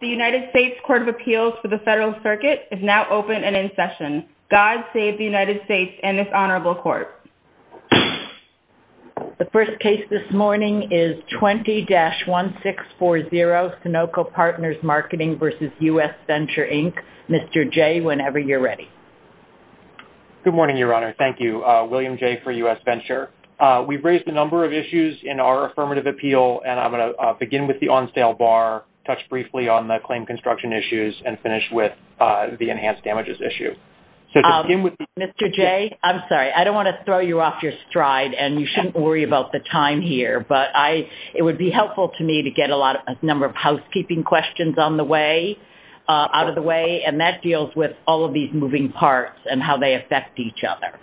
The United States Court of Appeals for the Federal Circuit is now open and in session. God save the United States and this honorable court. The first case this morning is 20-1640, Sunoco Partners Marketing v. U.S. Venture, Inc. Mr. Jay, whenever you're ready. Good morning, Your Honor. Thank you. William Jay for U.S. Venture. We've raised a number of issues in our affirmative appeal, and I'm going to begin with the on-sale bar, touch briefly on the claim construction issues, and finish with the enhanced damages issue. Mr. Jay, I'm sorry. I don't want to throw you off your stride, and you shouldn't worry about the time here, but it would be helpful to me to get a number of housekeeping questions on the way, out of the way, and that deals with all of these moving parts and how they affect each other.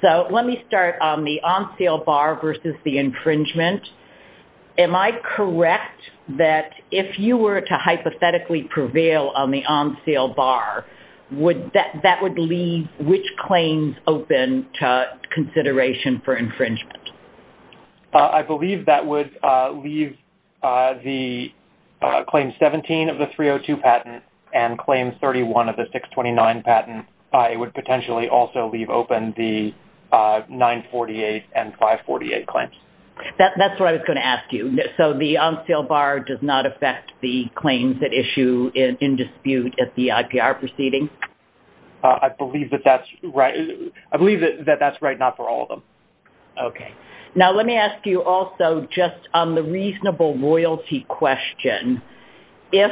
So let me start on the on-sale bar versus the infringement. Am I correct that if you were to hypothetically prevail on the on-sale bar, that would leave which claims open to consideration for infringement? I believe that would leave the claim 17 of the 302 patent and claim 31 of the 629 patent. It would potentially also leave open the 948 and 548 claims. That's what I was going to ask you. So the on-sale bar does not affect the claims that issue in dispute at the IPR proceeding? I believe that that's right. I believe that that's right, not for all of them. Okay. Now let me ask you also just on the reasonable royalty question. If,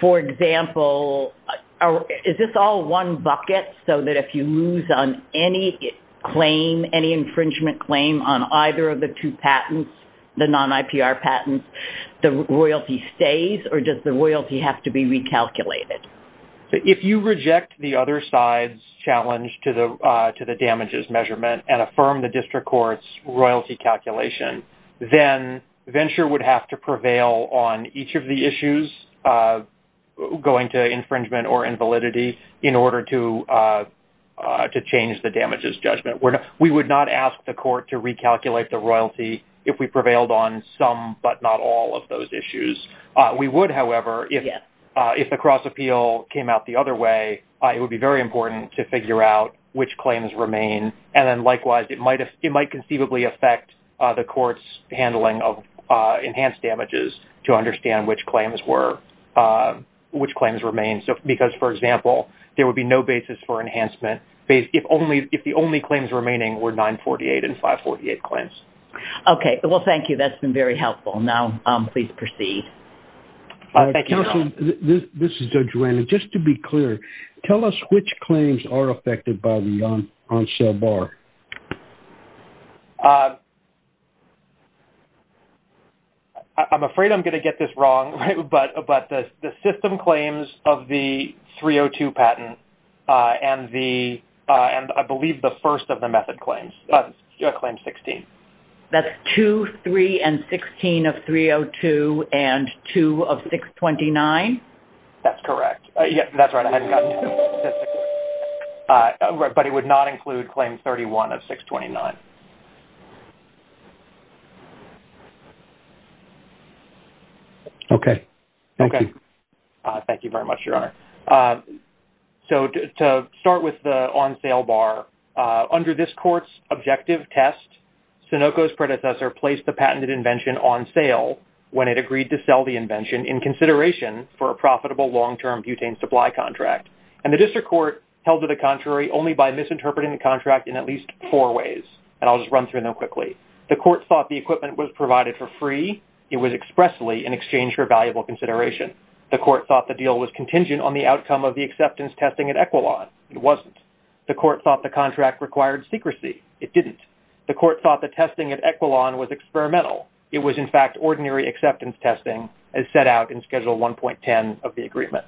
for example, is this all one bucket, so that if you lose on any infringement claim on either of the two patents, the non-IPR patents, the royalty stays? Or does the royalty have to be recalculated? If you reject the other side's challenge to the damages measurement and affirm the district court's royalty calculation, then Venture would have to prevail on each of the issues going to infringement or invalidity in order to change the damages judgment. We would not ask the court to recalculate the royalty if we prevailed on some but not all of those issues. We would, however, if the cross-appeal came out the other way, it would be very important to figure out which claims remain. And then, likewise, it might conceivably affect the court's handling of enhanced damages to understand which claims remain. Because, for example, there would be no basis for enhancement if the only claims remaining were 948 and 548 claims. Okay, well, thank you. That's been very helpful. Now please proceed. Counsel, this is Judge Randall. Just to be clear, tell us which claims are affected by the on-sell bar. I'm afraid I'm going to get this wrong, but the system claims of the 302 patent and, I believe, the first of the method claims, claim 16. That's 2, 3, and 16 of 302 and 2 of 629? That's correct. But it would not include claim 31 of 629. Okay, thank you. Thank you very much, Your Honor. So to start with the on-sale bar, under this court's objective test, Sunoco's predecessor placed the patented invention on sale when it agreed to sell the invention in consideration for a profitable long-term butane supply contract. And the district court held to the contrary only by misinterpreting the contract in at least four ways. And I'll just run through them quickly. The court thought the equipment was provided for free. It was expressly in exchange for valuable consideration. The court thought the deal was contingent on the outcome of the acceptance testing at Equilon. It wasn't. The court thought the contract required secrecy. It didn't. The court thought the testing at Equilon was experimental. It was, in fact, ordinary acceptance testing as set out in Schedule 1.10 of the agreement.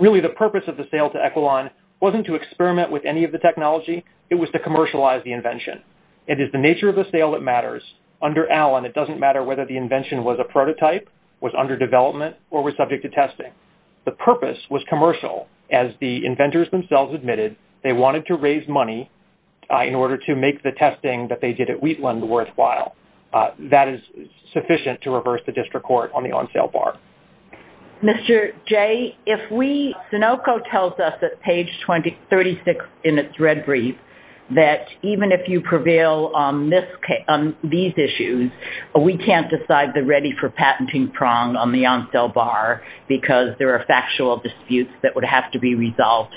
Really, the purpose of the sale to Equilon wasn't to experiment with any of the technology. It was to commercialize the invention. It is the nature of the sale that matters. Under Allen, it doesn't matter whether the invention was a prototype, was under development, or was subject to testing. The purpose was commercial. As the inventors themselves admitted, they wanted to raise money in order to make the testing that they did at Wheatland worthwhile. That is sufficient to reverse the district court on the on-sale bar. Mr. J., if we, Sunoco tells us at page 36 in its red brief, that even if you prevail on these issues, we can't decide the ready for patenting prong on the on-sale bar because there are factual disputes that would have to be resolved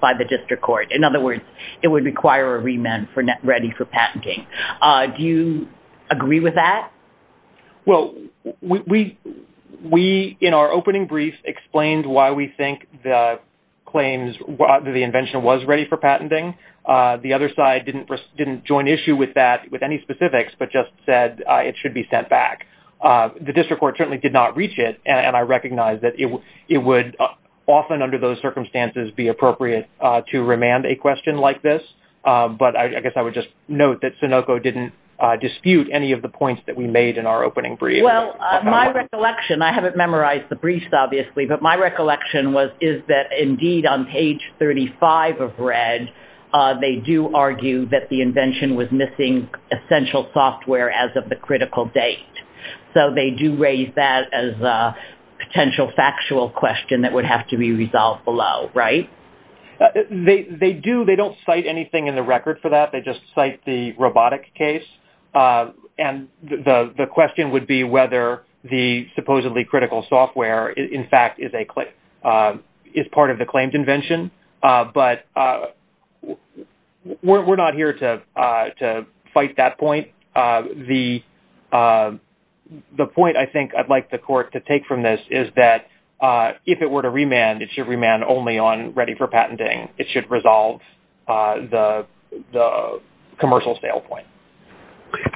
by the district court. In other words, it would require a remand for ready for patenting. Do you agree with that? Well, we, in our opening brief, explained why we think the claims that the invention was ready for patenting. The other side didn't join issue with that, with any specifics, but just said it should be sent back. The district court certainly did not reach it, and I recognize that it would often under those circumstances be appropriate to remand a question like this. But I guess I would just note that Sunoco didn't dispute any of the points that we made in our opening brief. Well, my recollection, I haven't memorized the brief, obviously, but my recollection is that indeed on page 35 of red, they do argue that the invention was missing essential software as of the critical date. So they do raise that as a potential factual question that would have to be resolved below, right? They do. They don't cite anything in the record for that. They just cite the robotic case. And the question would be whether the supposedly critical software, in fact, is part of the claimed invention. But we're not here to fight that point. The point I think I'd like the court to take from this is that if it were to remand, it should remand only on ready for patenting. It should resolve the commercial sale point.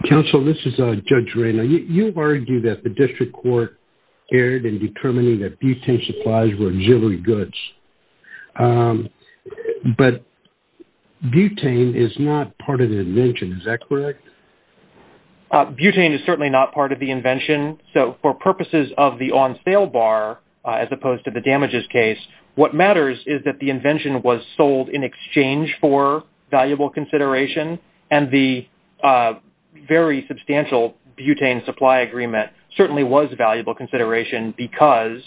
Counsel, this is Judge Ray. Now, you argue that the district court erred in determining that butane supplies were auxiliary goods. But butane is not part of the invention. Is that correct? Butane is certainly not part of the invention. So for purposes of the on sale bar, as opposed to the damages case, what matters is that the invention was sold in exchange for valuable consideration. And the very substantial butane supply agreement certainly was valuable consideration because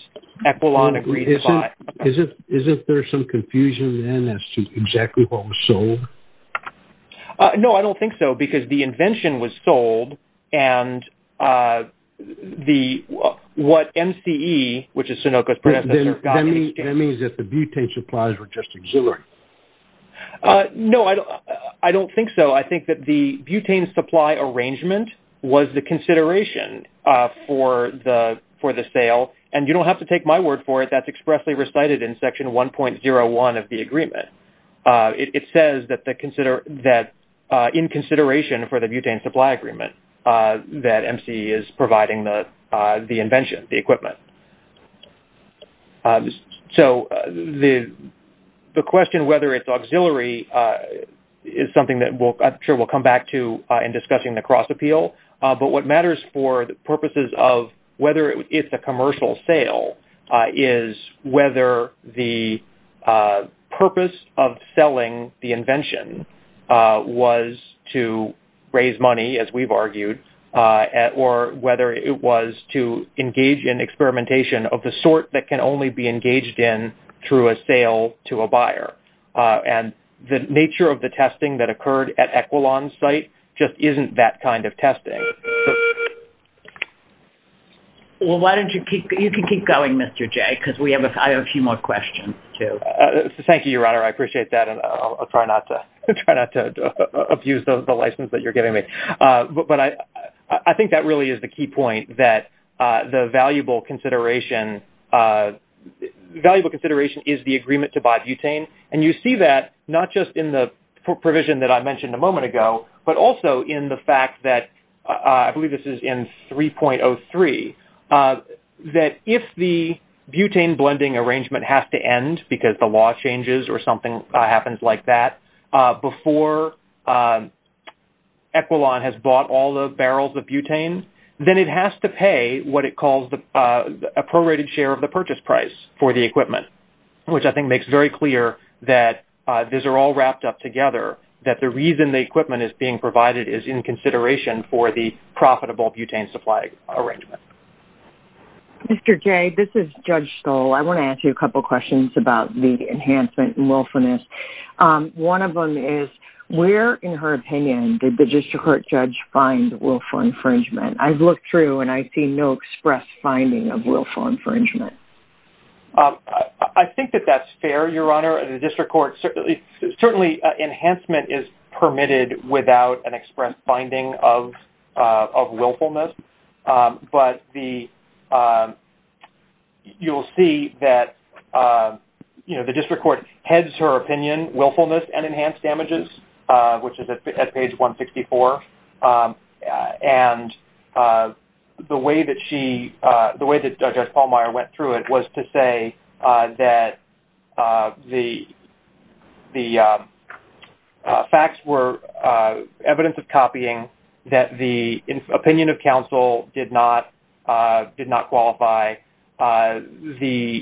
Equilon agreed to buy. Isn't there some confusion then as to exactly what was sold? No, I don't think so because the invention was sold and what MCE, which is Sunoco's predecessor, got in exchange. That means that the butane supplies were just auxiliary. No, I don't think so. I think that the butane supply arrangement was the consideration for the sale. And you don't have to take my word for it. That's expressly recited in Section 1.01 of the agreement. It says that in consideration for the butane supply agreement, that MCE is providing the invention, the equipment. So the question whether it's auxiliary is something that I'm sure we'll come back to in discussing the cross appeal. But what matters for the purposes of whether it's a commercial sale is whether the purpose of selling the invention was to raise money, as we've argued, or whether it was to engage in experimentation of the sort that can only be engaged in through a sale to a buyer. And the nature of the testing that occurred at Equilon's site just isn't that kind of testing. Well, you can keep going, Mr. J., because I have a few more questions, too. Thank you, Your Honor. I appreciate that, and I'll try not to abuse the license that you're giving me. But I think that really is the key point, that the valuable consideration is the agreement to buy butane. And you see that not just in the provision that I mentioned a moment ago, but also in the fact that, I believe this is in 3.03, that if the butane blending arrangement has to end because the law changes or something happens like that before Equilon has bought all the barrels of butane, then it has to pay what it calls a prorated share of the purchase price for the equipment, which I think makes very clear that these are all wrapped up together, that the reason the equipment is being provided is in consideration for the profitable butane supply arrangement. Mr. J., this is Judge Stoll. I want to ask you a couple of questions about the enhancement in willfulness. One of them is, where, in her opinion, did the district court judge find willful infringement? I've looked through, and I see no express finding of willful infringement. I think that that's fair, Your Honor. Certainly, enhancement is permitted without an express finding of willfulness, but you'll see that the district court heads her opinion, willfulness and enhanced damages, which is at page 164. And the way that Judge Pallmeyer went through it was to say that the facts were evidence of copying, that the opinion of counsel did not qualify. The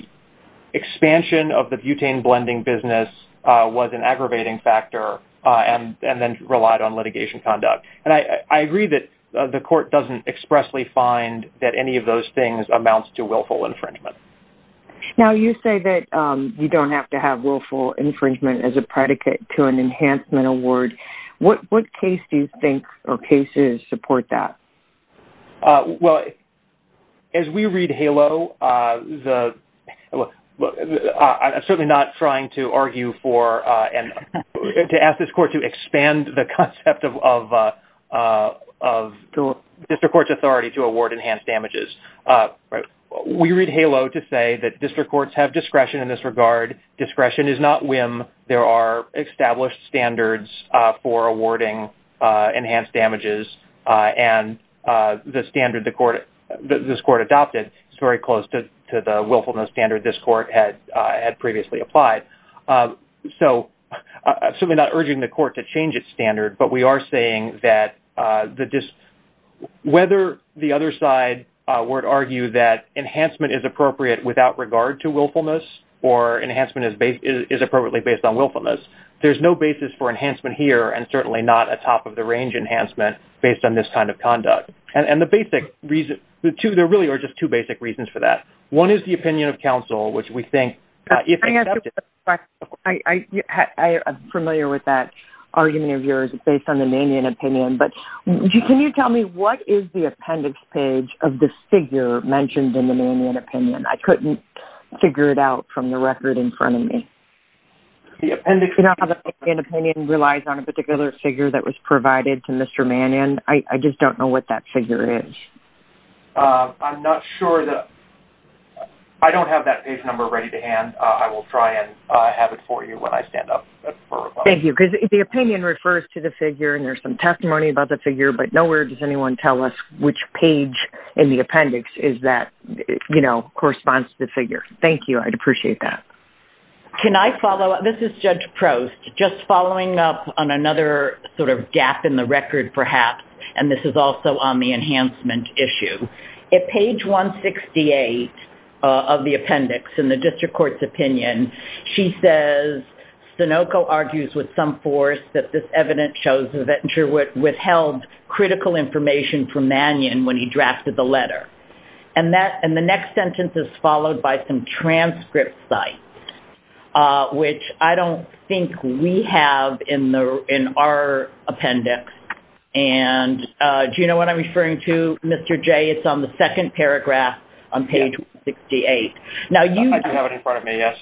expansion of the butane blending business was an aggravating factor and then relied on litigation conduct. And I agree that the court doesn't expressly find that any of those things amounts to willful infringement. Now, you say that you don't have to have willful infringement as a predicate to an enhancement award. What case do you think or cases support that? Well, as we read HALO, I'm certainly not trying to argue for and to ask this court to expand the concept of district court's authority to award enhanced damages. We read HALO to say that district courts have discretion in this regard. Discretion is not whim. There are established standards for awarding enhanced damages, and the standard this court adopted is very close to the willfulness standard this court had previously applied. So, I'm certainly not urging the court to change its standard, but we are saying that whether the other side were to argue that enhancement is appropriate without regard to willfulness or enhancement is appropriately based on willfulness, there's no basis for enhancement here and certainly not a top-of-the-range enhancement based on this kind of conduct. And there really are just two basic reasons for that. One is the opinion of counsel, which we think... I'm familiar with that argument of yours based on the Mannion opinion, but can you tell me what is the appendix page of the figure mentioned in the Mannion opinion? I couldn't figure it out from the record in front of me. The appendix... You know how the Mannion opinion relies on a particular figure that was provided to Mr. Mannion? I just don't know what that figure is. I'm not sure that... I don't have that page number ready to hand. I will try and have it for you when I stand up for rebuttal. Thank you. Because the opinion refers to the figure and there's some testimony about the figure, but nowhere does anyone tell us which page in the appendix is that, you know, corresponds to the figure. Thank you. I'd appreciate that. Can I follow up? This is Judge Prost. Just following up on another sort of gap in the record, perhaps, and this is also on the enhancement issue. At page 168 of the appendix, in the district court's opinion, she says, Sunoco argues with some force that this evidence shows that Venture withheld critical information from Mannion when he drafted the letter. And the next sentence is followed by some transcript sites, which I don't think we have in our appendix. And do you know what I'm referring to, Mr. J? It's on the second paragraph on page 168. I do have it in front of me, yes.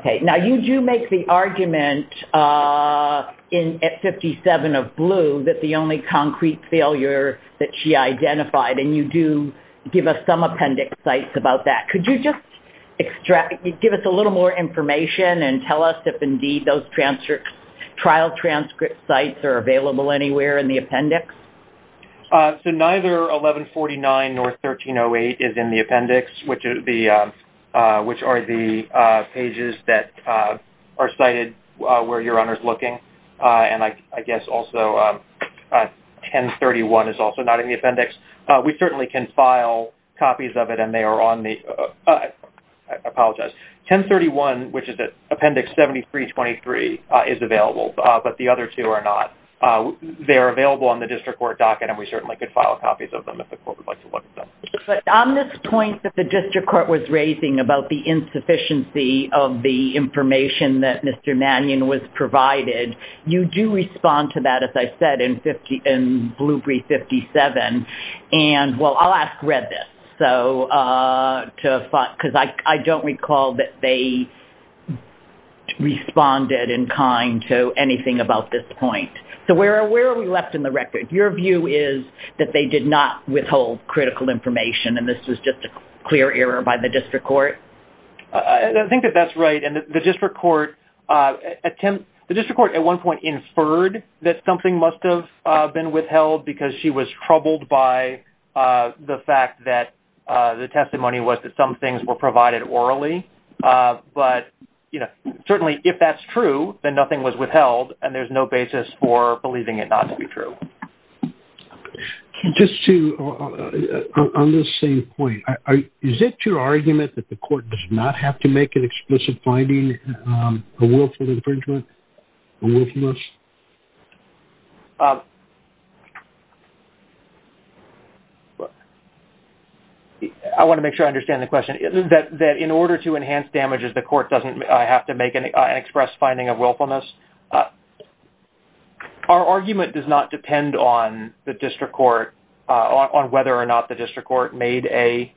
Okay. Now, you do make the argument at 57 of blue that the only concrete failure that she identified, and you do give us some appendix sites about that. Could you just give us a little more information and tell us if, indeed, those trial transcript sites are available anywhere in the appendix? So neither 1149 nor 1308 is in the appendix, which are the pages that are cited where your owner is looking. And I guess also 1031 is also not in the appendix. We certainly can file copies of it, and they are on the – I apologize. 1031, which is appendix 7323, is available, but the other two are not. They are available on the district court docket, and we certainly could file copies of them if the court would like to look at them. But on this point that the district court was raising about the insufficiency of the information that Mr. Mannion was provided, you do respond to that, as I said, in Blueprint 57. And, well, I'll ask Red this, because I don't recall that they responded in kind to anything about this point. So where are we left in the record? Your view is that they did not withhold critical information, and this was just a clear error by the district court? I think that that's right. And the district court – the district court at one point inferred that something must have been withheld because she was troubled by the fact that the testimony was that some things were provided orally. But, you know, certainly if that's true, then nothing was withheld, and there's no basis for believing it not to be true. Just to – on this same point, is it your argument that the court does not have to make an explicit finding of willful infringement or willfulness? I want to make sure I understand the question. That in order to enhance damages, the court doesn't have to make an express finding of willfulness? Our argument does not depend on the district court – on whether or not the district court made a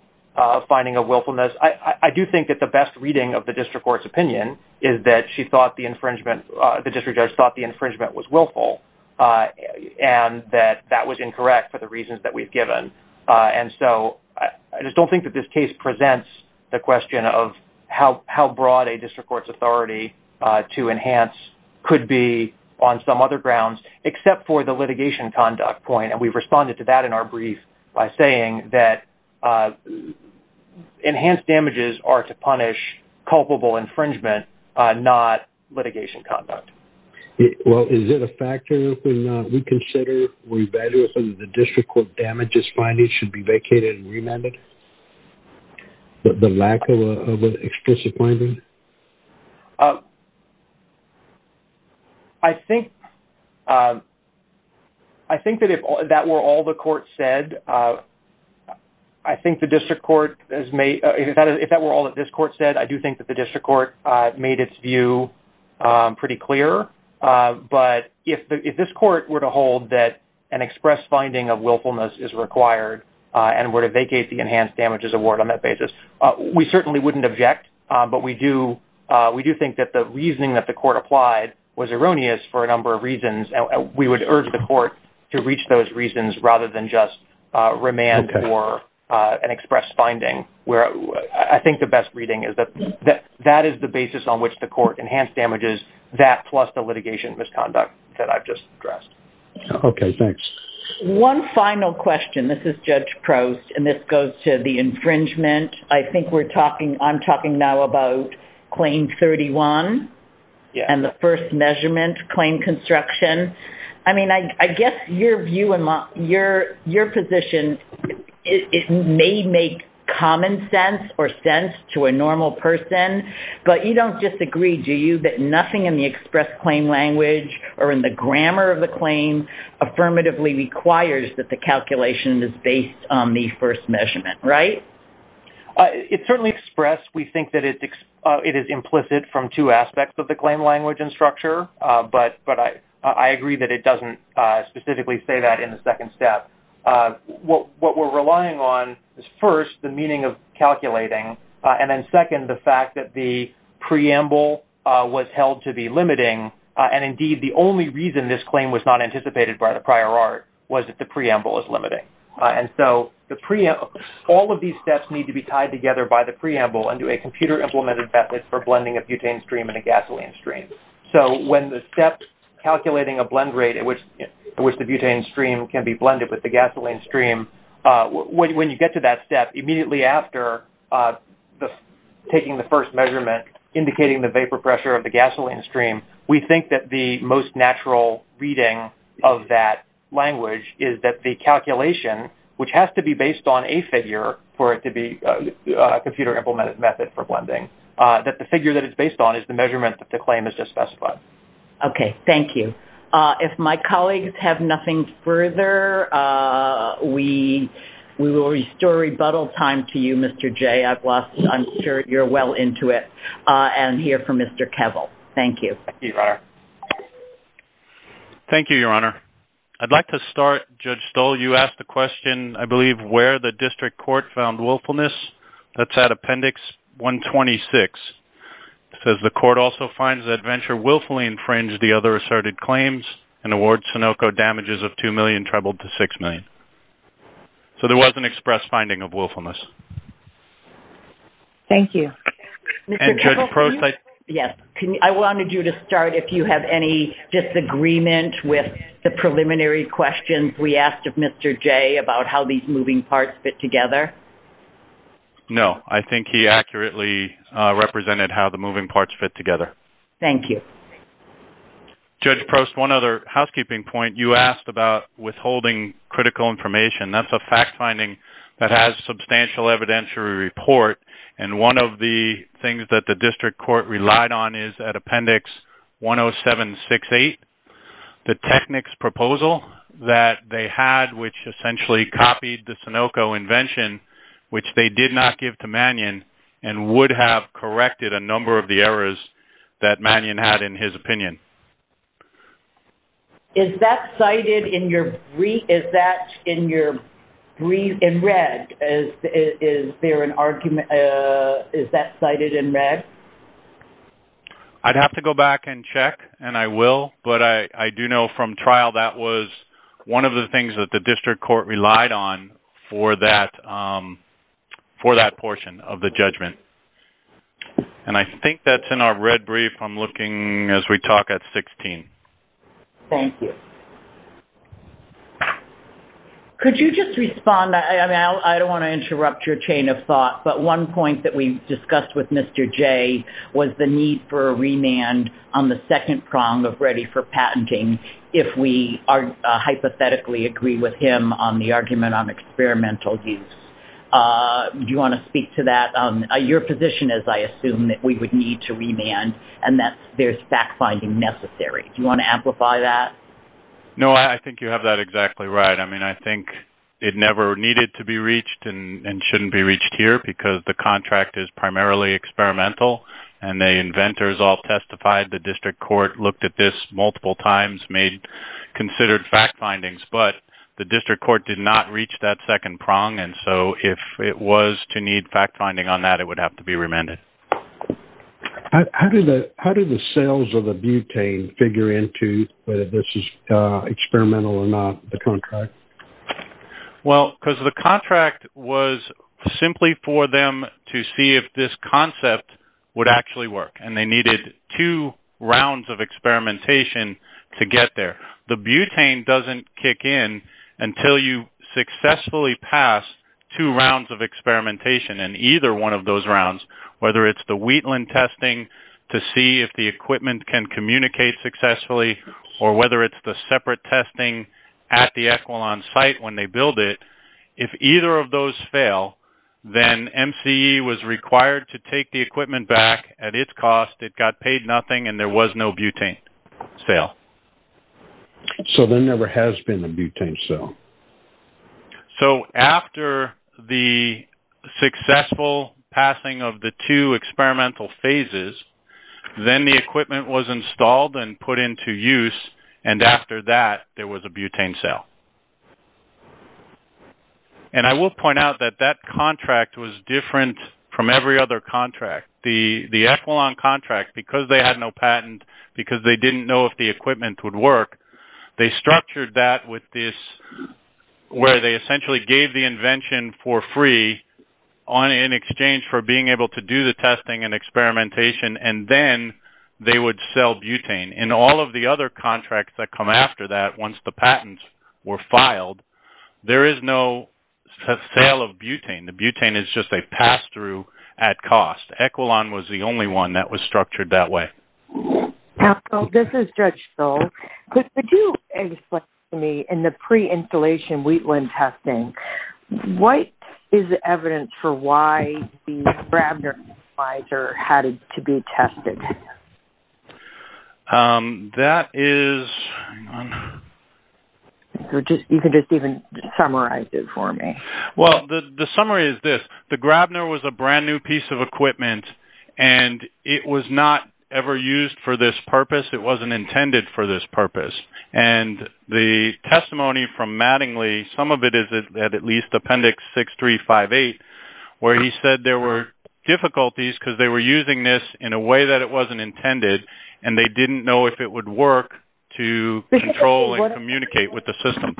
finding of willfulness. I do think that the best reading of the district court's opinion is that she thought the infringement – the district judge thought the infringement was willful, and that that was incorrect for the reasons that we've given. And so I just don't think that this case presents the question of how broad a district court's authority to enhance could be on some other grounds, except for the litigation conduct point. And we've responded to that in our brief by saying that enhanced damages are to punish culpable infringement, not litigation conduct. Well, is it a factor when we consider revaluation that the district court damages finding should be vacated and remanded? The lack of an explicit finding? I think – I think that if that were all the court said, I think the district court – if that were all that this court said, I do think that the district court made its view pretty clear. But if this court were to hold that an express finding of willfulness is required and were to vacate the enhanced damages award on that basis, we certainly wouldn't object. But we do – we do think that the reasoning that the court applied was erroneous for a number of reasons, and we would urge the court to reach those reasons rather than just remand for an express finding. I think the best reading is that that is the basis on which the court enhanced damages, that plus the litigation misconduct that I've just addressed. Okay, thanks. One final question. This is Judge Proust, and this goes to the infringement. I think we're talking – I'm talking now about Claim 31 and the first measurement, claim construction. I mean, I guess your view and your position, it may make common sense or sense to a normal person, but you don't disagree, do you, that nothing in the express claim language or in the grammar of the claim affirmatively requires that the calculation is based on the first measurement, right? It's certainly expressed. We think that it is implicit from two aspects of the claim language and structure, but I agree that it doesn't specifically say that in the second step. What we're relying on is, first, the meaning of calculating, and then, second, the fact that the preamble was held to be limiting, and, indeed, the only reason this claim was not anticipated by the prior art was that the preamble is limiting. And so all of these steps need to be tied together by the preamble and do a computer-implemented method for blending a butane stream and a gasoline stream. So when the steps calculating a blend rate at which the butane stream can be blended with the gasoline stream, when you get to that step, immediately after taking the first measurement, indicating the vapor pressure of the gasoline stream, we think that the most natural reading of that language is that the calculation, which has to be based on a figure for it to be a computer-implemented method for blending, that the figure that it's based on is the measurement that the claim has just specified. Okay. Thank you. If my colleagues have nothing further, we will restore rebuttal time to you, Mr. J. I'm sure you're well into it and here for Mr. Kevel. Thank you. Thank you, Your Honor. Thank you, Your Honor. I'd like to start, Judge Stoll, you asked the question, I believe, of where the district court found willfulness. That's at Appendix 126. It says the court also finds that Venture willfully infringed the other asserted claims and awards Sunoco damages of $2 million, trebled to $6 million. So there was an express finding of willfulness. Thank you. And, Judge Probst, I'd like to start. Yes. I wanted you to start if you have any disagreement with the preliminary questions we asked of Mr. J. about how these moving parts fit together. No. I think he accurately represented how the moving parts fit together. Thank you. Judge Probst, one other housekeeping point. You asked about withholding critical information. That's a fact finding that has substantial evidentiary report, and one of the things that the district court relied on is at Appendix 10768, the technics proposal that they had, which essentially copied the Sunoco invention, which they did not give to Mannion, and would have corrected a number of the errors that Mannion had in his opinion. Is that cited in your brief, is that in your brief in red? Is there an argument, is that cited in red? I'd have to go back and check, and I will, but I do know from trial that was one of the things that the district court relied on for that portion of the judgment. And I think that's in our red brief. I'm looking as we talk at 16. Thank you. Could you just respond? I don't want to interrupt your chain of thought, but one point that we discussed with Mr. J was the need for a remand on the second prong of ready for patenting if we hypothetically agree with him on the argument on experimental use. Do you want to speak to that? Your position is, I assume, that we would need to remand and that there's fact finding necessary. Do you want to amplify that? No, I think you have that exactly right. I mean, I think it never needed to be reached and shouldn't be reached here because the contract is primarily experimental, and the inventors all testified. The district court looked at this multiple times, made considered fact findings, but the district court did not reach that second prong. And so if it was to need fact finding on that, it would have to be remanded. How do the sales of the butane figure into whether this is experimental or not, the contract? Well, because the contract was simply for them to see if this concept would actually work, and they needed two rounds of experimentation to get there. The butane doesn't kick in until you successfully pass two rounds of experimentation in either one of those rounds, whether it's the Wheatland testing to see if the equipment can communicate successfully or whether it's the separate testing at the Equalon site when they build it. If either of those fail, then MCE was required to take the equipment back at its cost. It got paid nothing, and there was no butane sale. So there never has been a butane sale? So after the successful passing of the two experimental phases, then the equipment was installed and put into use, and after that, there was a butane sale. And I will point out that that contract was different from every other contract. The Equalon contract, because they had no patent, because they didn't know if the equipment would work, they structured that with this where they essentially gave the invention for free in exchange for being able to do the testing and experimentation, and then they would sell butane. In all of the other contracts that come after that, once the patents were filed, there is no sale of butane. The butane is just a pass-through at cost. Equalon was the only one that was structured that way. This is Judge Schill. Could you explain to me, in the pre-installation Wheatland testing, what is the evidence for why the Grabner analyzer had to be tested? That is... You can just even summarize it for me. Well, the summary is this. The Grabner was a brand-new piece of equipment, and it was not ever used for this purpose. It wasn't intended for this purpose. And the testimony from Mattingly, some of it is at least Appendix 6358, where he said there were difficulties because they were using this in a way that it wasn't intended, and they didn't know if it would work to control and communicate with the system.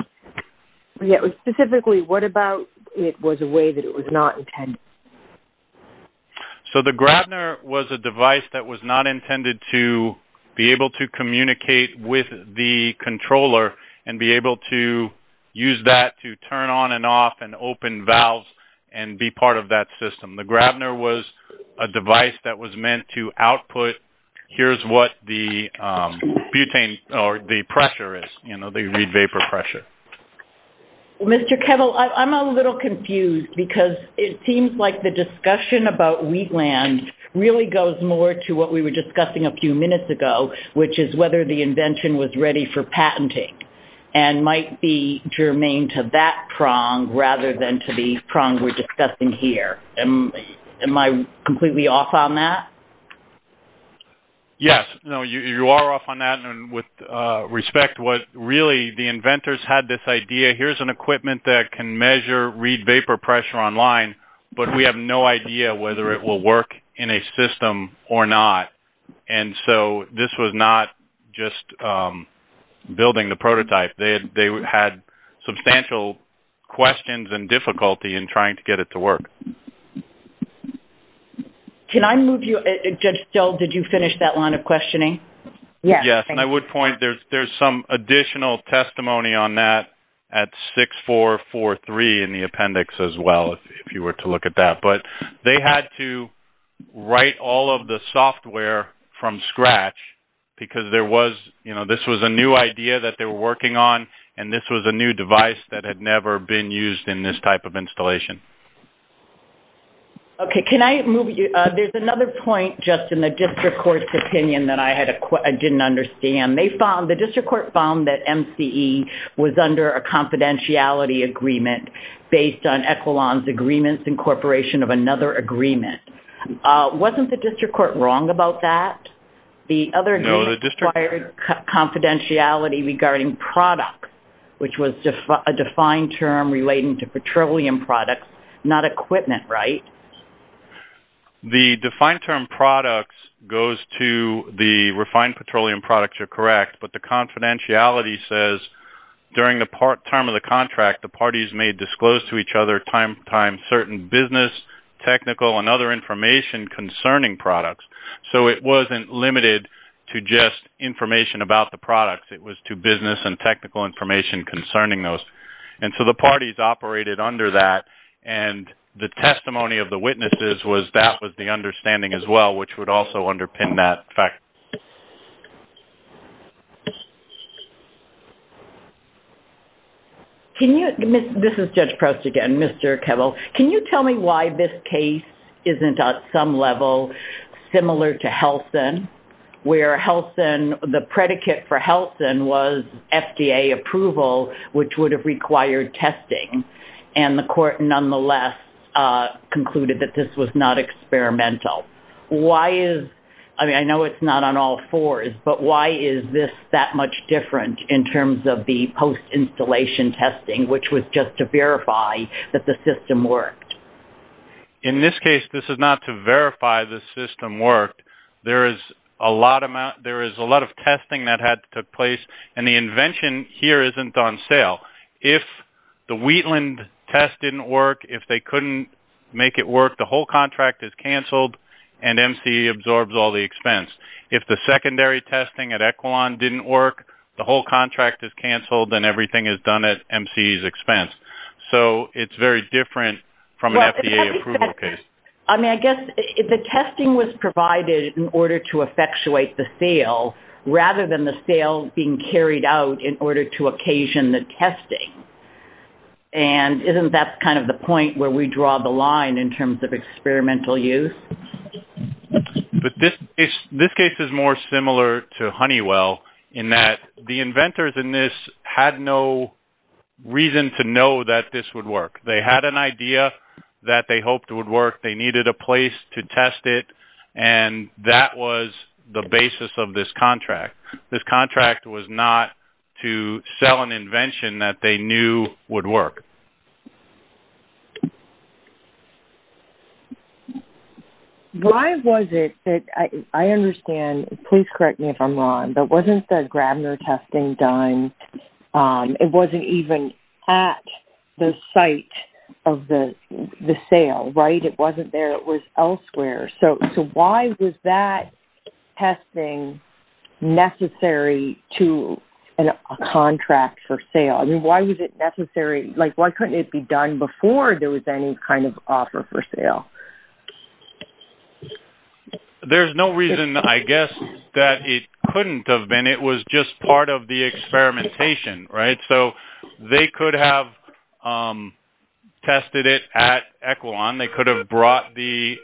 Specifically, what about it was a way that it was not intended? The Grabner was a device that was not intended to be able to communicate with the controller and be able to use that to turn on and off and open valves and be part of that system. The Grabner was a device that was meant to output, here's what the pressure is, the read vapor pressure. Mr. Kettle, I'm a little confused because it seems like the discussion about Wheatland really goes more to what we were discussing a few minutes ago, which is whether the invention was ready for patenting and might be germane to that prong rather than to the prong we're discussing here. Am I completely off on that? Yes, you are off on that. With respect, what really the inventors had this idea, here's an equipment that can measure read vapor pressure online, but we have no idea whether it will work in a system or not. This was not just building the prototype. They had substantial questions and difficulty in trying to get it to work. Judge Still, did you finish that line of questioning? Yes. I would point, there's some additional testimony on that at 6443 in the appendix as well, if you were to look at that. They had to write all of the software from scratch because this was a new idea that they were working on and this was a new device that had never been used in this type of installation. Okay. There's another point just in the district court's opinion that I didn't understand. The district court found that MCE was under a confidentiality agreement based on Equilon's agreements incorporation of another agreement. Wasn't the district court wrong about that? No. The other case required confidentiality regarding products, which was a defined term relating to petroleum products, not equipment, right? The defined term products goes to the refined petroleum products, you're correct, but the confidentiality says during the time of the contract, the parties may disclose to each other time-to-time certain business, technical, and other information concerning products. So it wasn't limited to just information about the products. It was to business and technical information concerning those. And so the parties operated under that, and the testimony of the witnesses was that was the understanding as well, which would also underpin that fact. This is Judge Proust again, Mr. Kevel. Can you tell me why this case isn't at some level similar to Helsin, where Helsin, the predicate for Helsin was FDA approval, which would have required testing, and the court nonetheless concluded that this was not experimental. Why is, I mean, I know it's not on all fours, but why is this that much different in terms of the post-installation testing, which was just to verify that the system worked? In this case, this is not to verify the system worked. There is a lot of testing that had to take place, and the invention here isn't on sale. If the Wheatland test didn't work, if they couldn't make it work, the whole contract is canceled, and MCE absorbs all the expense. If the secondary testing at Equilon didn't work, the whole contract is canceled, and everything is done at MCE's expense. So it's very different from an FDA approval case. I mean, I guess the testing was provided in order to effectuate the sale, rather than the sale being carried out in order to occasion the testing. And isn't that kind of the point where we draw the line in terms of experimental use? But this case is more similar to Honeywell in that the inventors in this had no reason to know that this would work. They had an idea that they hoped would work. They needed a place to test it, and that was the basis of this contract. This contract was not to sell an invention that they knew would work. Why was it that I understand, please correct me if I'm wrong, but wasn't the Grabner testing done? It wasn't even at the site of the sale, right? It wasn't there. It was elsewhere. So why was that testing necessary to a contract for sale? I mean, why was it necessary? Like, why couldn't it be done before there was any kind of offer for sale? There's no reason, I guess, that it couldn't have been. It was just part of the experimentation, right? So they could have tested it at Equilon. They could have brought the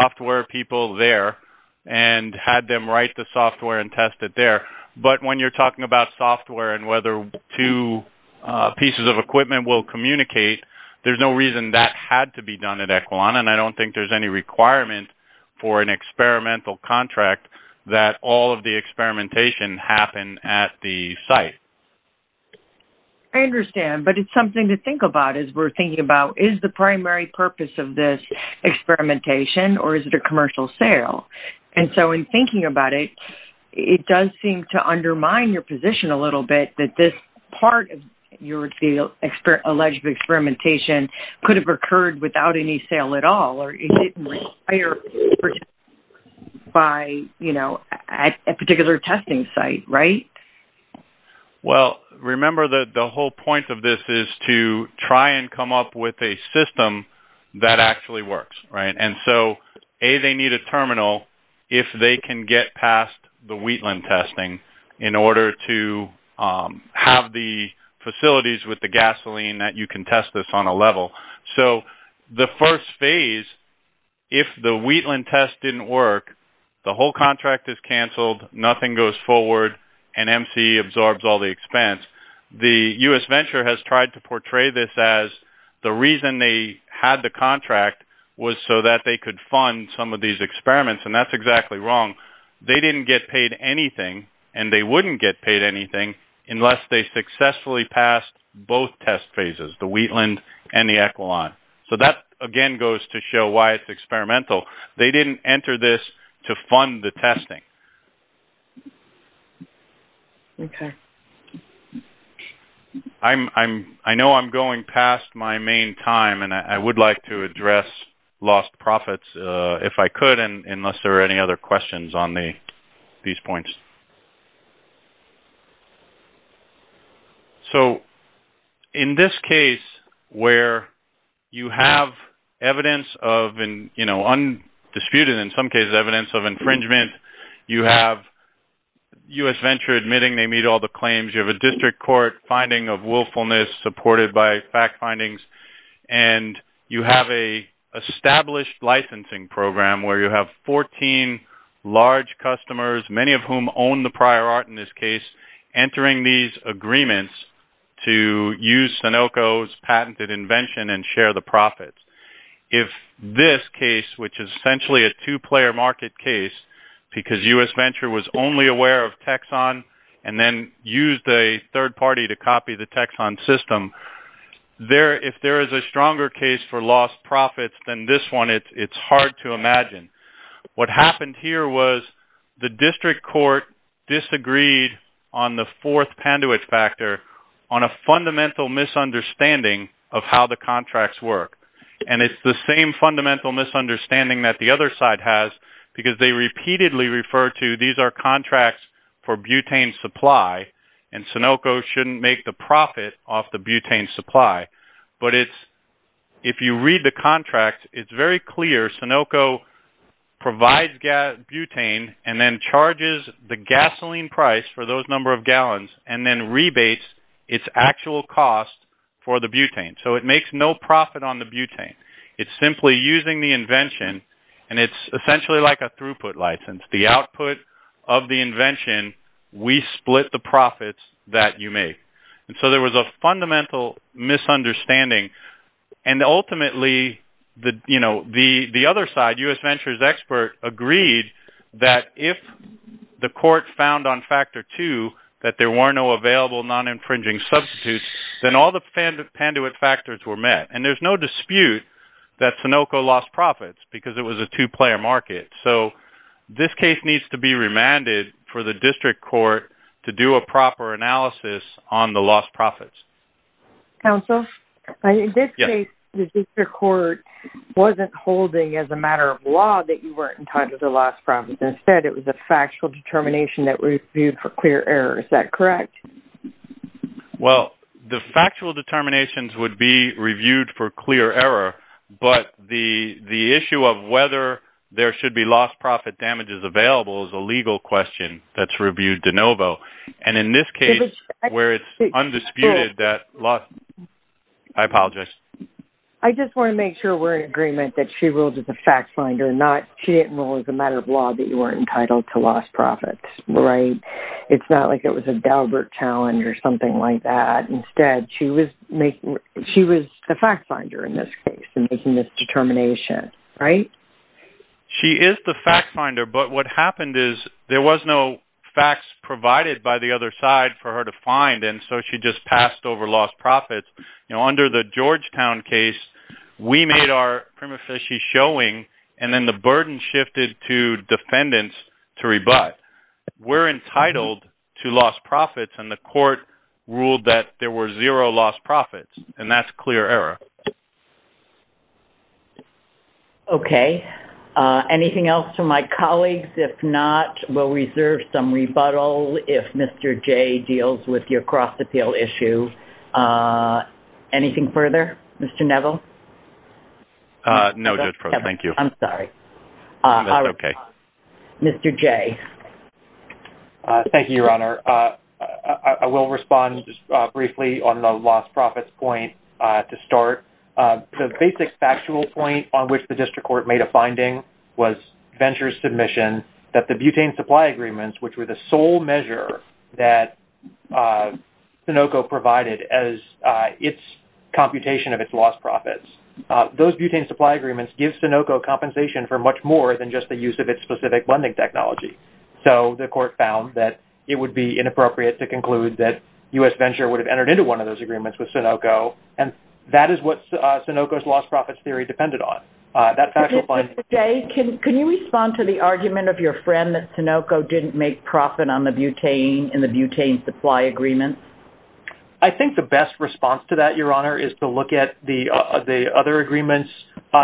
software people there and had them write the software and test it there. But when you're talking about software and whether two pieces of equipment will communicate, there's no reason that had to be done at Equilon, and I don't think there's any requirement for an experimental contract that all of the experimentation happen at the site. I understand, but it's something to think about as we're thinking about, you know, is the primary purpose of this experimentation or is it a commercial sale? And so in thinking about it, it does seem to undermine your position a little bit that this part of your alleged experimentation could have occurred without any sale at all or it didn't require a particular testing site, right? Well, remember that the whole point of this is to try and come up with a system that actually works, right? And so, A, they need a terminal if they can get past the Wheatland testing in order to have the facilities with the gasoline that you can test this on a level. So the first phase, if the Wheatland test didn't work, the whole contract is canceled, nothing goes forward, and MCE absorbs all the expense. The U.S. Venture has tried to portray this as the reason they had the contract was so that they could fund some of these experiments, and that's exactly wrong. They didn't get paid anything, and they wouldn't get paid anything, unless they successfully passed both test phases, the Wheatland and the Equilon. So that, again, goes to show why it's experimental. They didn't enter this to fund the testing. I know I'm going past my main time, and I would like to address lost profits if I could, unless there are any other questions on these points. So in this case where you have evidence of undisputed, in some cases, evidence of infringement, you have U.S. Venture admitting they meet all the claims, you have a district court finding of willfulness supported by fact findings, and you have an established licensing program where you have 14 large customers, many of whom own the prior art in this case, entering these agreements to use Sunoco's patented invention and share the profits. If this case, which is essentially a two-player market case, because U.S. Venture was only aware of Texon and then used a third party to copy the Texon system, if there is a stronger case for lost profits than this one, it's hard to imagine. What happened here was the district court disagreed on the fourth Panduit factor on a fundamental misunderstanding of how the contracts work. And it's the same fundamental misunderstanding that the other side has, because they repeatedly refer to these are contracts for butane supply, and Sunoco shouldn't make the profit off the butane supply. But if you read the contract, it's very clear Sunoco provides butane and then charges the gasoline price for those number of gallons and then rebates its actual cost for the butane. So it makes no profit on the butane. It's simply using the invention, and it's essentially like a throughput license. The output of the invention, we split the profits that you make. And so there was a fundamental misunderstanding. And ultimately, the other side, U.S. Venture's expert, agreed that if the court found on factor two that there were no available non-infringing substitutes, then all the Panduit factors were met. And there's no dispute that Sunoco lost profits because it was a two-player market. So this case needs to be remanded for the district court to do a proper analysis on the lost profits. Counsel, in this case, the district court wasn't holding as a matter of law that you weren't entitled to the lost profits. Instead, it was a factual determination that reviewed for clear error. Is that correct? Well, the factual determinations would be reviewed for clear error, but the issue of whether there should be lost profit damages available is a legal question that's reviewed de novo. And in this case, where it's undisputed that lost – I apologize. I just want to make sure we're in agreement that she ruled as a fact finder and not – she didn't rule as a matter of law that you weren't entitled to lost profits, right? It's not like it was a Dalbert challenge or something like that. Instead, she was the fact finder in this case in making this determination, right? She is the fact finder, but what happened is there was no facts provided by the other side for her to find, and so she just passed over lost profits. Under the Georgetown case, we made our prima facie showing, and then the burden shifted to defendants to rebut. But we're entitled to lost profits, and the court ruled that there were zero lost profits, and that's clear error. Okay. Anything else from my colleagues? If not, we'll reserve some rebuttal if Mr. Jay deals with your cross-appeal issue. Anything further? Mr. Neville? No, Judge Frost. Thank you. I'm sorry. That's okay. Mr. Jay? Thank you, Your Honor. I will respond just briefly on the lost profits point to start. The basic factual point on which the district court made a finding was Venture's submission that the butane supply agreements, which were the sole measure that Sunoco provided as its computation of its lost profits, those butane supply agreements give Sunoco compensation for much more than just the use of its specific funding technology. So the court found that it would be inappropriate to conclude that U.S. Venture would have entered into one of those agreements with Sunoco, and that is what Sunoco's lost profits theory depended on. That factual finding- Mr. Jay, can you respond to the argument of your friend that Sunoco didn't make profit in the butane supply agreements? I think the best response to that, Your Honor, is to look at the other agreements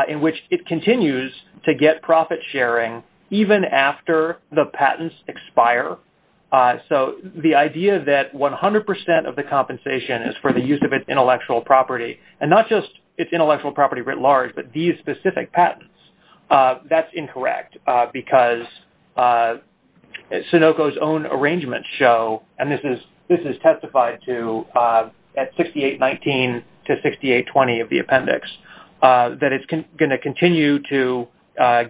in which it continues to get profit sharing even after the patents expire. So the idea that 100 percent of the compensation is for the use of its intellectual property, and not just its intellectual property writ large, but these specific patents, that's incorrect, because Sunoco's own arrangements show, and this is testified to at 6819 to 6820 of the appendix, that it's going to continue to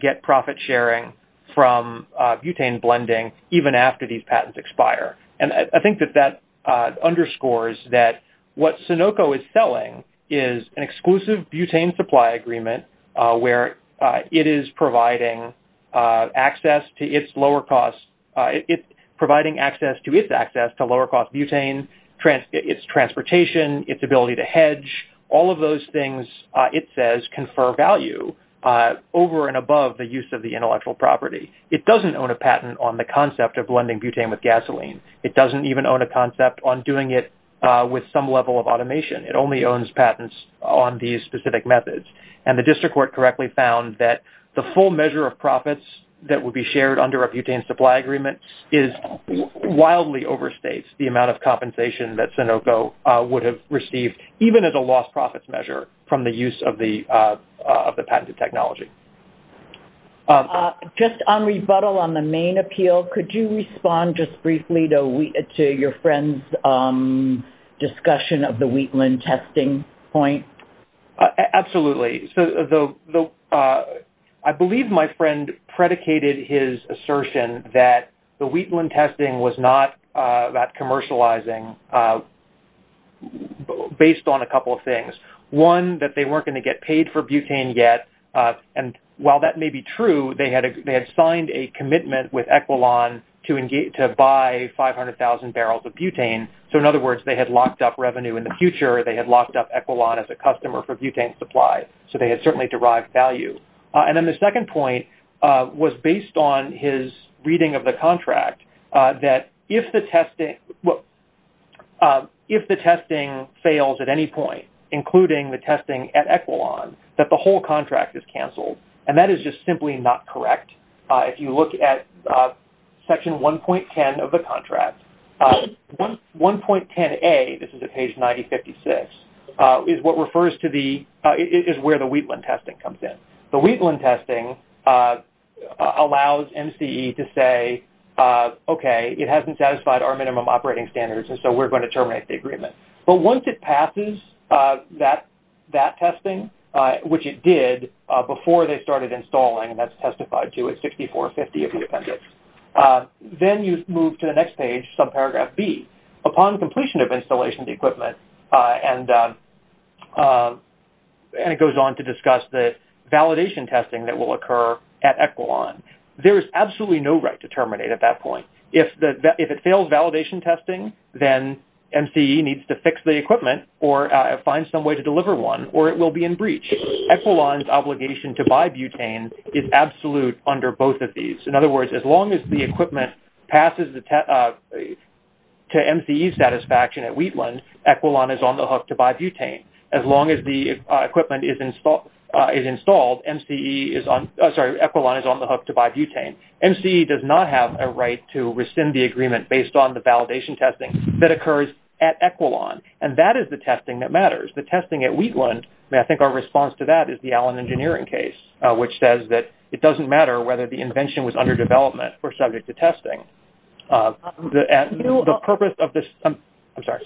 get profit sharing from butane blending even after these patents expire. And I think that that underscores that what Sunoco is selling is an exclusive butane supply agreement, where it is providing access to its access to lower-cost butane, its transportation, its ability to hedge, all of those things it says confer value over and above the use of the intellectual property. It doesn't own a patent on the concept of blending butane with gasoline. It doesn't even own a concept on doing it with some level of automation. It only owns patents on these specific methods. And the district court correctly found that the full measure of profits that would be shared under a butane supply agreement wildly overstates the amount of compensation that Sunoco would have received, even as a lost profits measure, from the use of the patented technology. Just on rebuttal on the main appeal, could you respond just briefly to your friend's discussion of the Wheatland testing point? Absolutely. I believe my friend predicated his assertion that the Wheatland testing was not that commercializing based on a couple of things. One, that they weren't going to get paid for butane yet. And while that may be true, they had signed a commitment with Equilon to buy 500,000 barrels of butane. So in other words, they had locked up revenue in the future. They had locked up Equilon as a customer for butane supply. So they had certainly derived value. And then the second point was based on his reading of the contract, that if the testing fails at any point, including the testing at Equilon, that the whole contract is canceled. And that is just simply not correct. If you look at section 1.10 of the contract, 1.10a, this is at page 9056, is where the Wheatland testing comes in. The Wheatland testing allows MCE to say, okay, it hasn't satisfied our minimum operating standards, and so we're going to terminate the agreement. But once it passes that testing, which it did before they started installing, and that's testified to at 6450 of the appendix, then you move to the next page, subparagraph B. Upon completion of installation of the equipment, and it goes on to discuss the validation testing that will occur at Equilon, there is absolutely no right to terminate at that point. If it fails validation testing, then MCE needs to fix the equipment or find some way to deliver one, or it will be in breach. Equilon's obligation to buy butane is absolute under both of these. In other words, as long as the equipment passes to MCE satisfaction at Wheatland, Equilon is on the hook to buy butane. As long as the equipment is installed, MCE is on – sorry, Equilon is on the hook to buy butane. MCE does not have a right to rescind the agreement based on the validation testing that occurs at Equilon, and that is the testing that matters. The testing at Wheatland, I think our response to that is the Allen Engineering case, which says that it doesn't matter whether the invention was under development or subject to testing. The purpose of this – I'm sorry.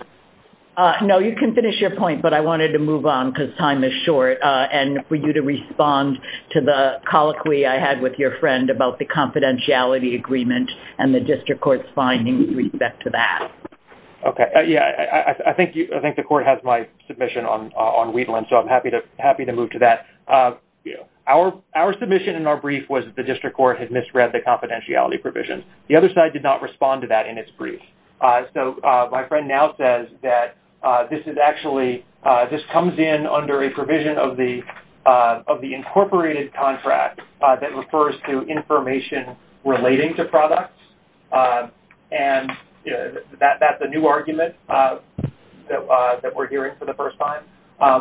No, you can finish your point, but I wanted to move on because time is short, and for you to respond to the colloquy I had with your friend about the confidentiality agreement and the district court's findings with respect to that. Okay, yeah, I think the court has my submission on Wheatland, so I'm happy to move to that. Our submission in our brief was that the district court had misread the confidentiality provisions. The other side did not respond to that in its brief. So my friend now says that this is actually – this comes in under a provision of the incorporated contract that refers to information relating to products, and that's a new argument that we're hearing for the first time.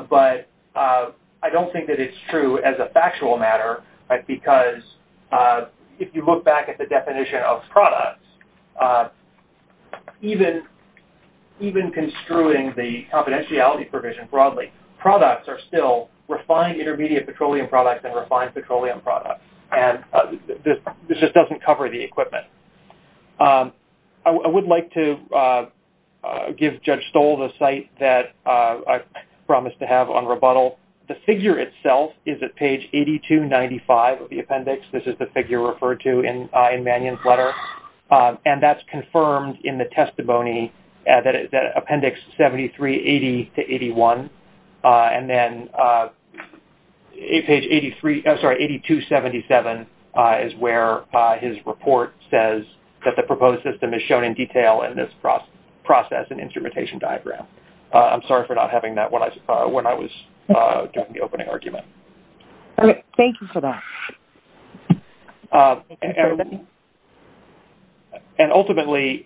But I don't think that it's true as a factual matter because if you look back at the definition of products, even construing the confidentiality provision broadly, products are still refined intermediate petroleum products and refined petroleum products, and this just doesn't cover the equipment. I would like to give Judge Stoll the site that I promised to have on rebuttal. The figure itself is at page 8295 of the appendix. This is the figure referred to in Mannion's letter, and that's confirmed in the testimony, appendix 7380-81, and then page 8277 is where his report says that the proposed system is shown in detail in this process and instrumentation diagram. I'm sorry for not having that when I was getting the opening argument. Thank you for that. And ultimately,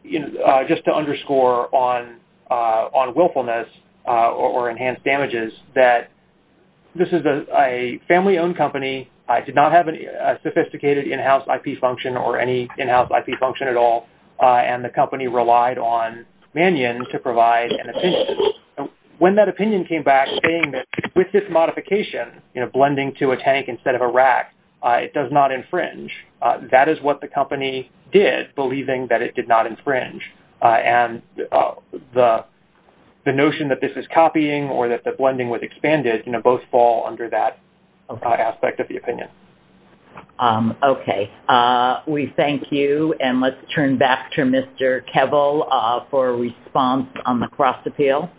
just to underscore on willfulness or enhanced damages, that this is a family-owned company. It did not have a sophisticated in-house IP function or any in-house IP function at all, and the company relied on Mannion to provide an opinion. When that opinion came back saying that with this modification, you know, blending to a tank instead of a rack, it does not infringe, that is what the company did, believing that it did not infringe. And the notion that this is copying or that the blending was expanded, you know, both fall under that aspect of the opinion. Okay. We thank you, and let's turn back to Mr. Kevil for a response on the cross-appeal.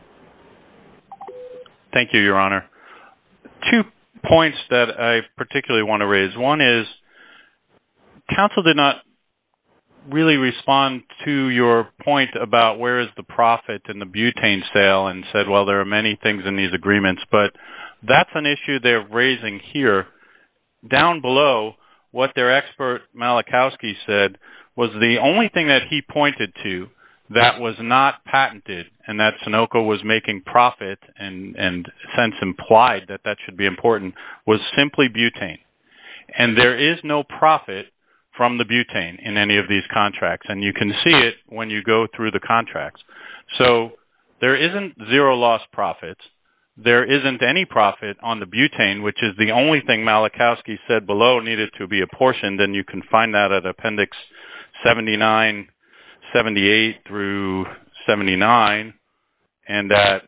Thank you, Your Honor. Two points that I particularly want to raise. One is, counsel did not really respond to your point about where is the profit in the butane sale and said, well, there are many things in these agreements. But that's an issue they're raising here. Down below, what their expert Malachowski said was the only thing that he pointed to that was not patented and that Sunoco was making profit and since implied that that should be important was simply butane. And there is no profit from the butane in any of these contracts, and you can see it when you go through the contracts. So there isn't zero loss profits. There isn't any profit on the butane, which is the only thing Malachowski said below needed to be apportioned, and you can find that at Appendix 79-78-79 and at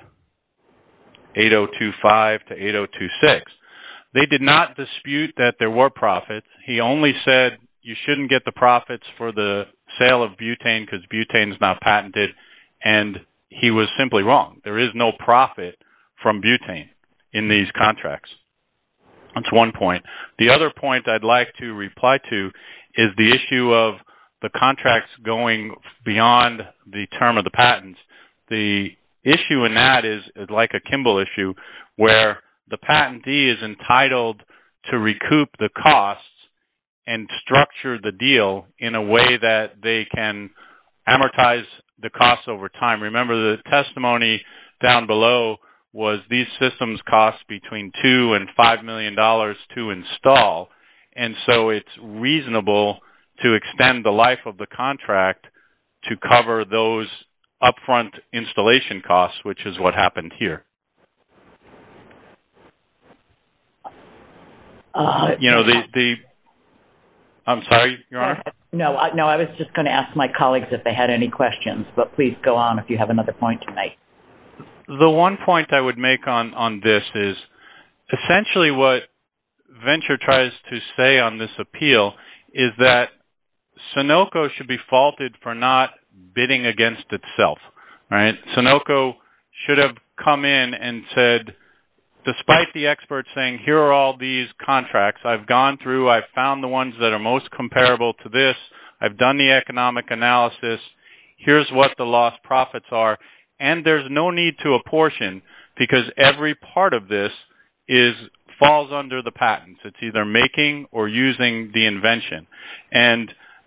8025-8026. They did not dispute that there were profits. He only said you shouldn't get the profits for the sale of butane because butane is not patented, and he was simply wrong. There is no profit from butane in these contracts. That's one point. The other point I'd like to reply to is the issue of the contracts going beyond the term of the patents. The issue in that is like a Kimball issue where the patentee is entitled to recoup the costs and structure the deal in a way that they can amortize the costs over time. Remember the testimony down below was these systems cost between $2 million and $5 million to install, and so it's reasonable to extend the life of the contract to cover those upfront installation costs, which is what happened here. I'm sorry, Your Honor? No, I was just going to ask my colleagues if they had any questions, but please go on if you have another point to make. The one point I would make on this is essentially what Venture tries to say on this appeal is that Sunoco should be faulted for not bidding against itself. Sunoco should have come in and said, despite the experts saying here are all these contracts I've gone through, I've found the ones that are most comparable to this, I've done the economic analysis, here's what the lost profits are, and there's no need to apportion because every part of this falls under the patents. It's either making or using the invention.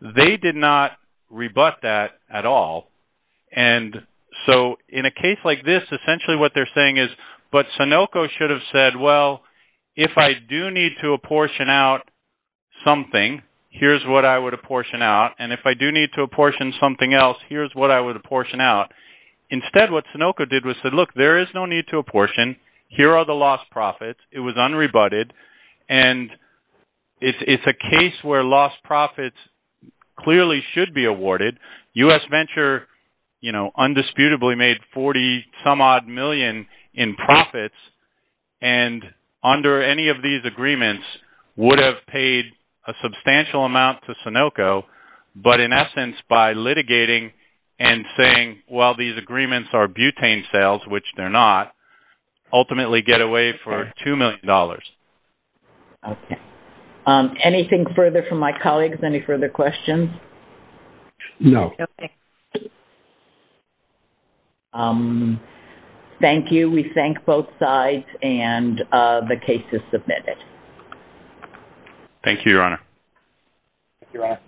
They did not rebut that at all, and so in a case like this, essentially what they're saying is, but Sunoco should have said, well, if I do need to apportion out something, here's what I would apportion out, and if I do need to apportion something else, here's what I would apportion out. Instead, what Sunoco did was said, look, there is no need to apportion. Here are the lost profits. It was unrebutted, and it's a case where lost profits clearly should be awarded. U.S. Venture, you know, undisputably made 40 some odd million in profits, and under any of these agreements would have paid a substantial amount to Sunoco, but in essence by litigating and saying, well, these agreements are butane sales, which they're not, ultimately get away for $2 million. Okay. Anything further from my colleagues? Any further questions? No. Okay. Thank you. We thank both sides, and the case is submitted. Thank you, Your Honor. Thank you, Your Honor.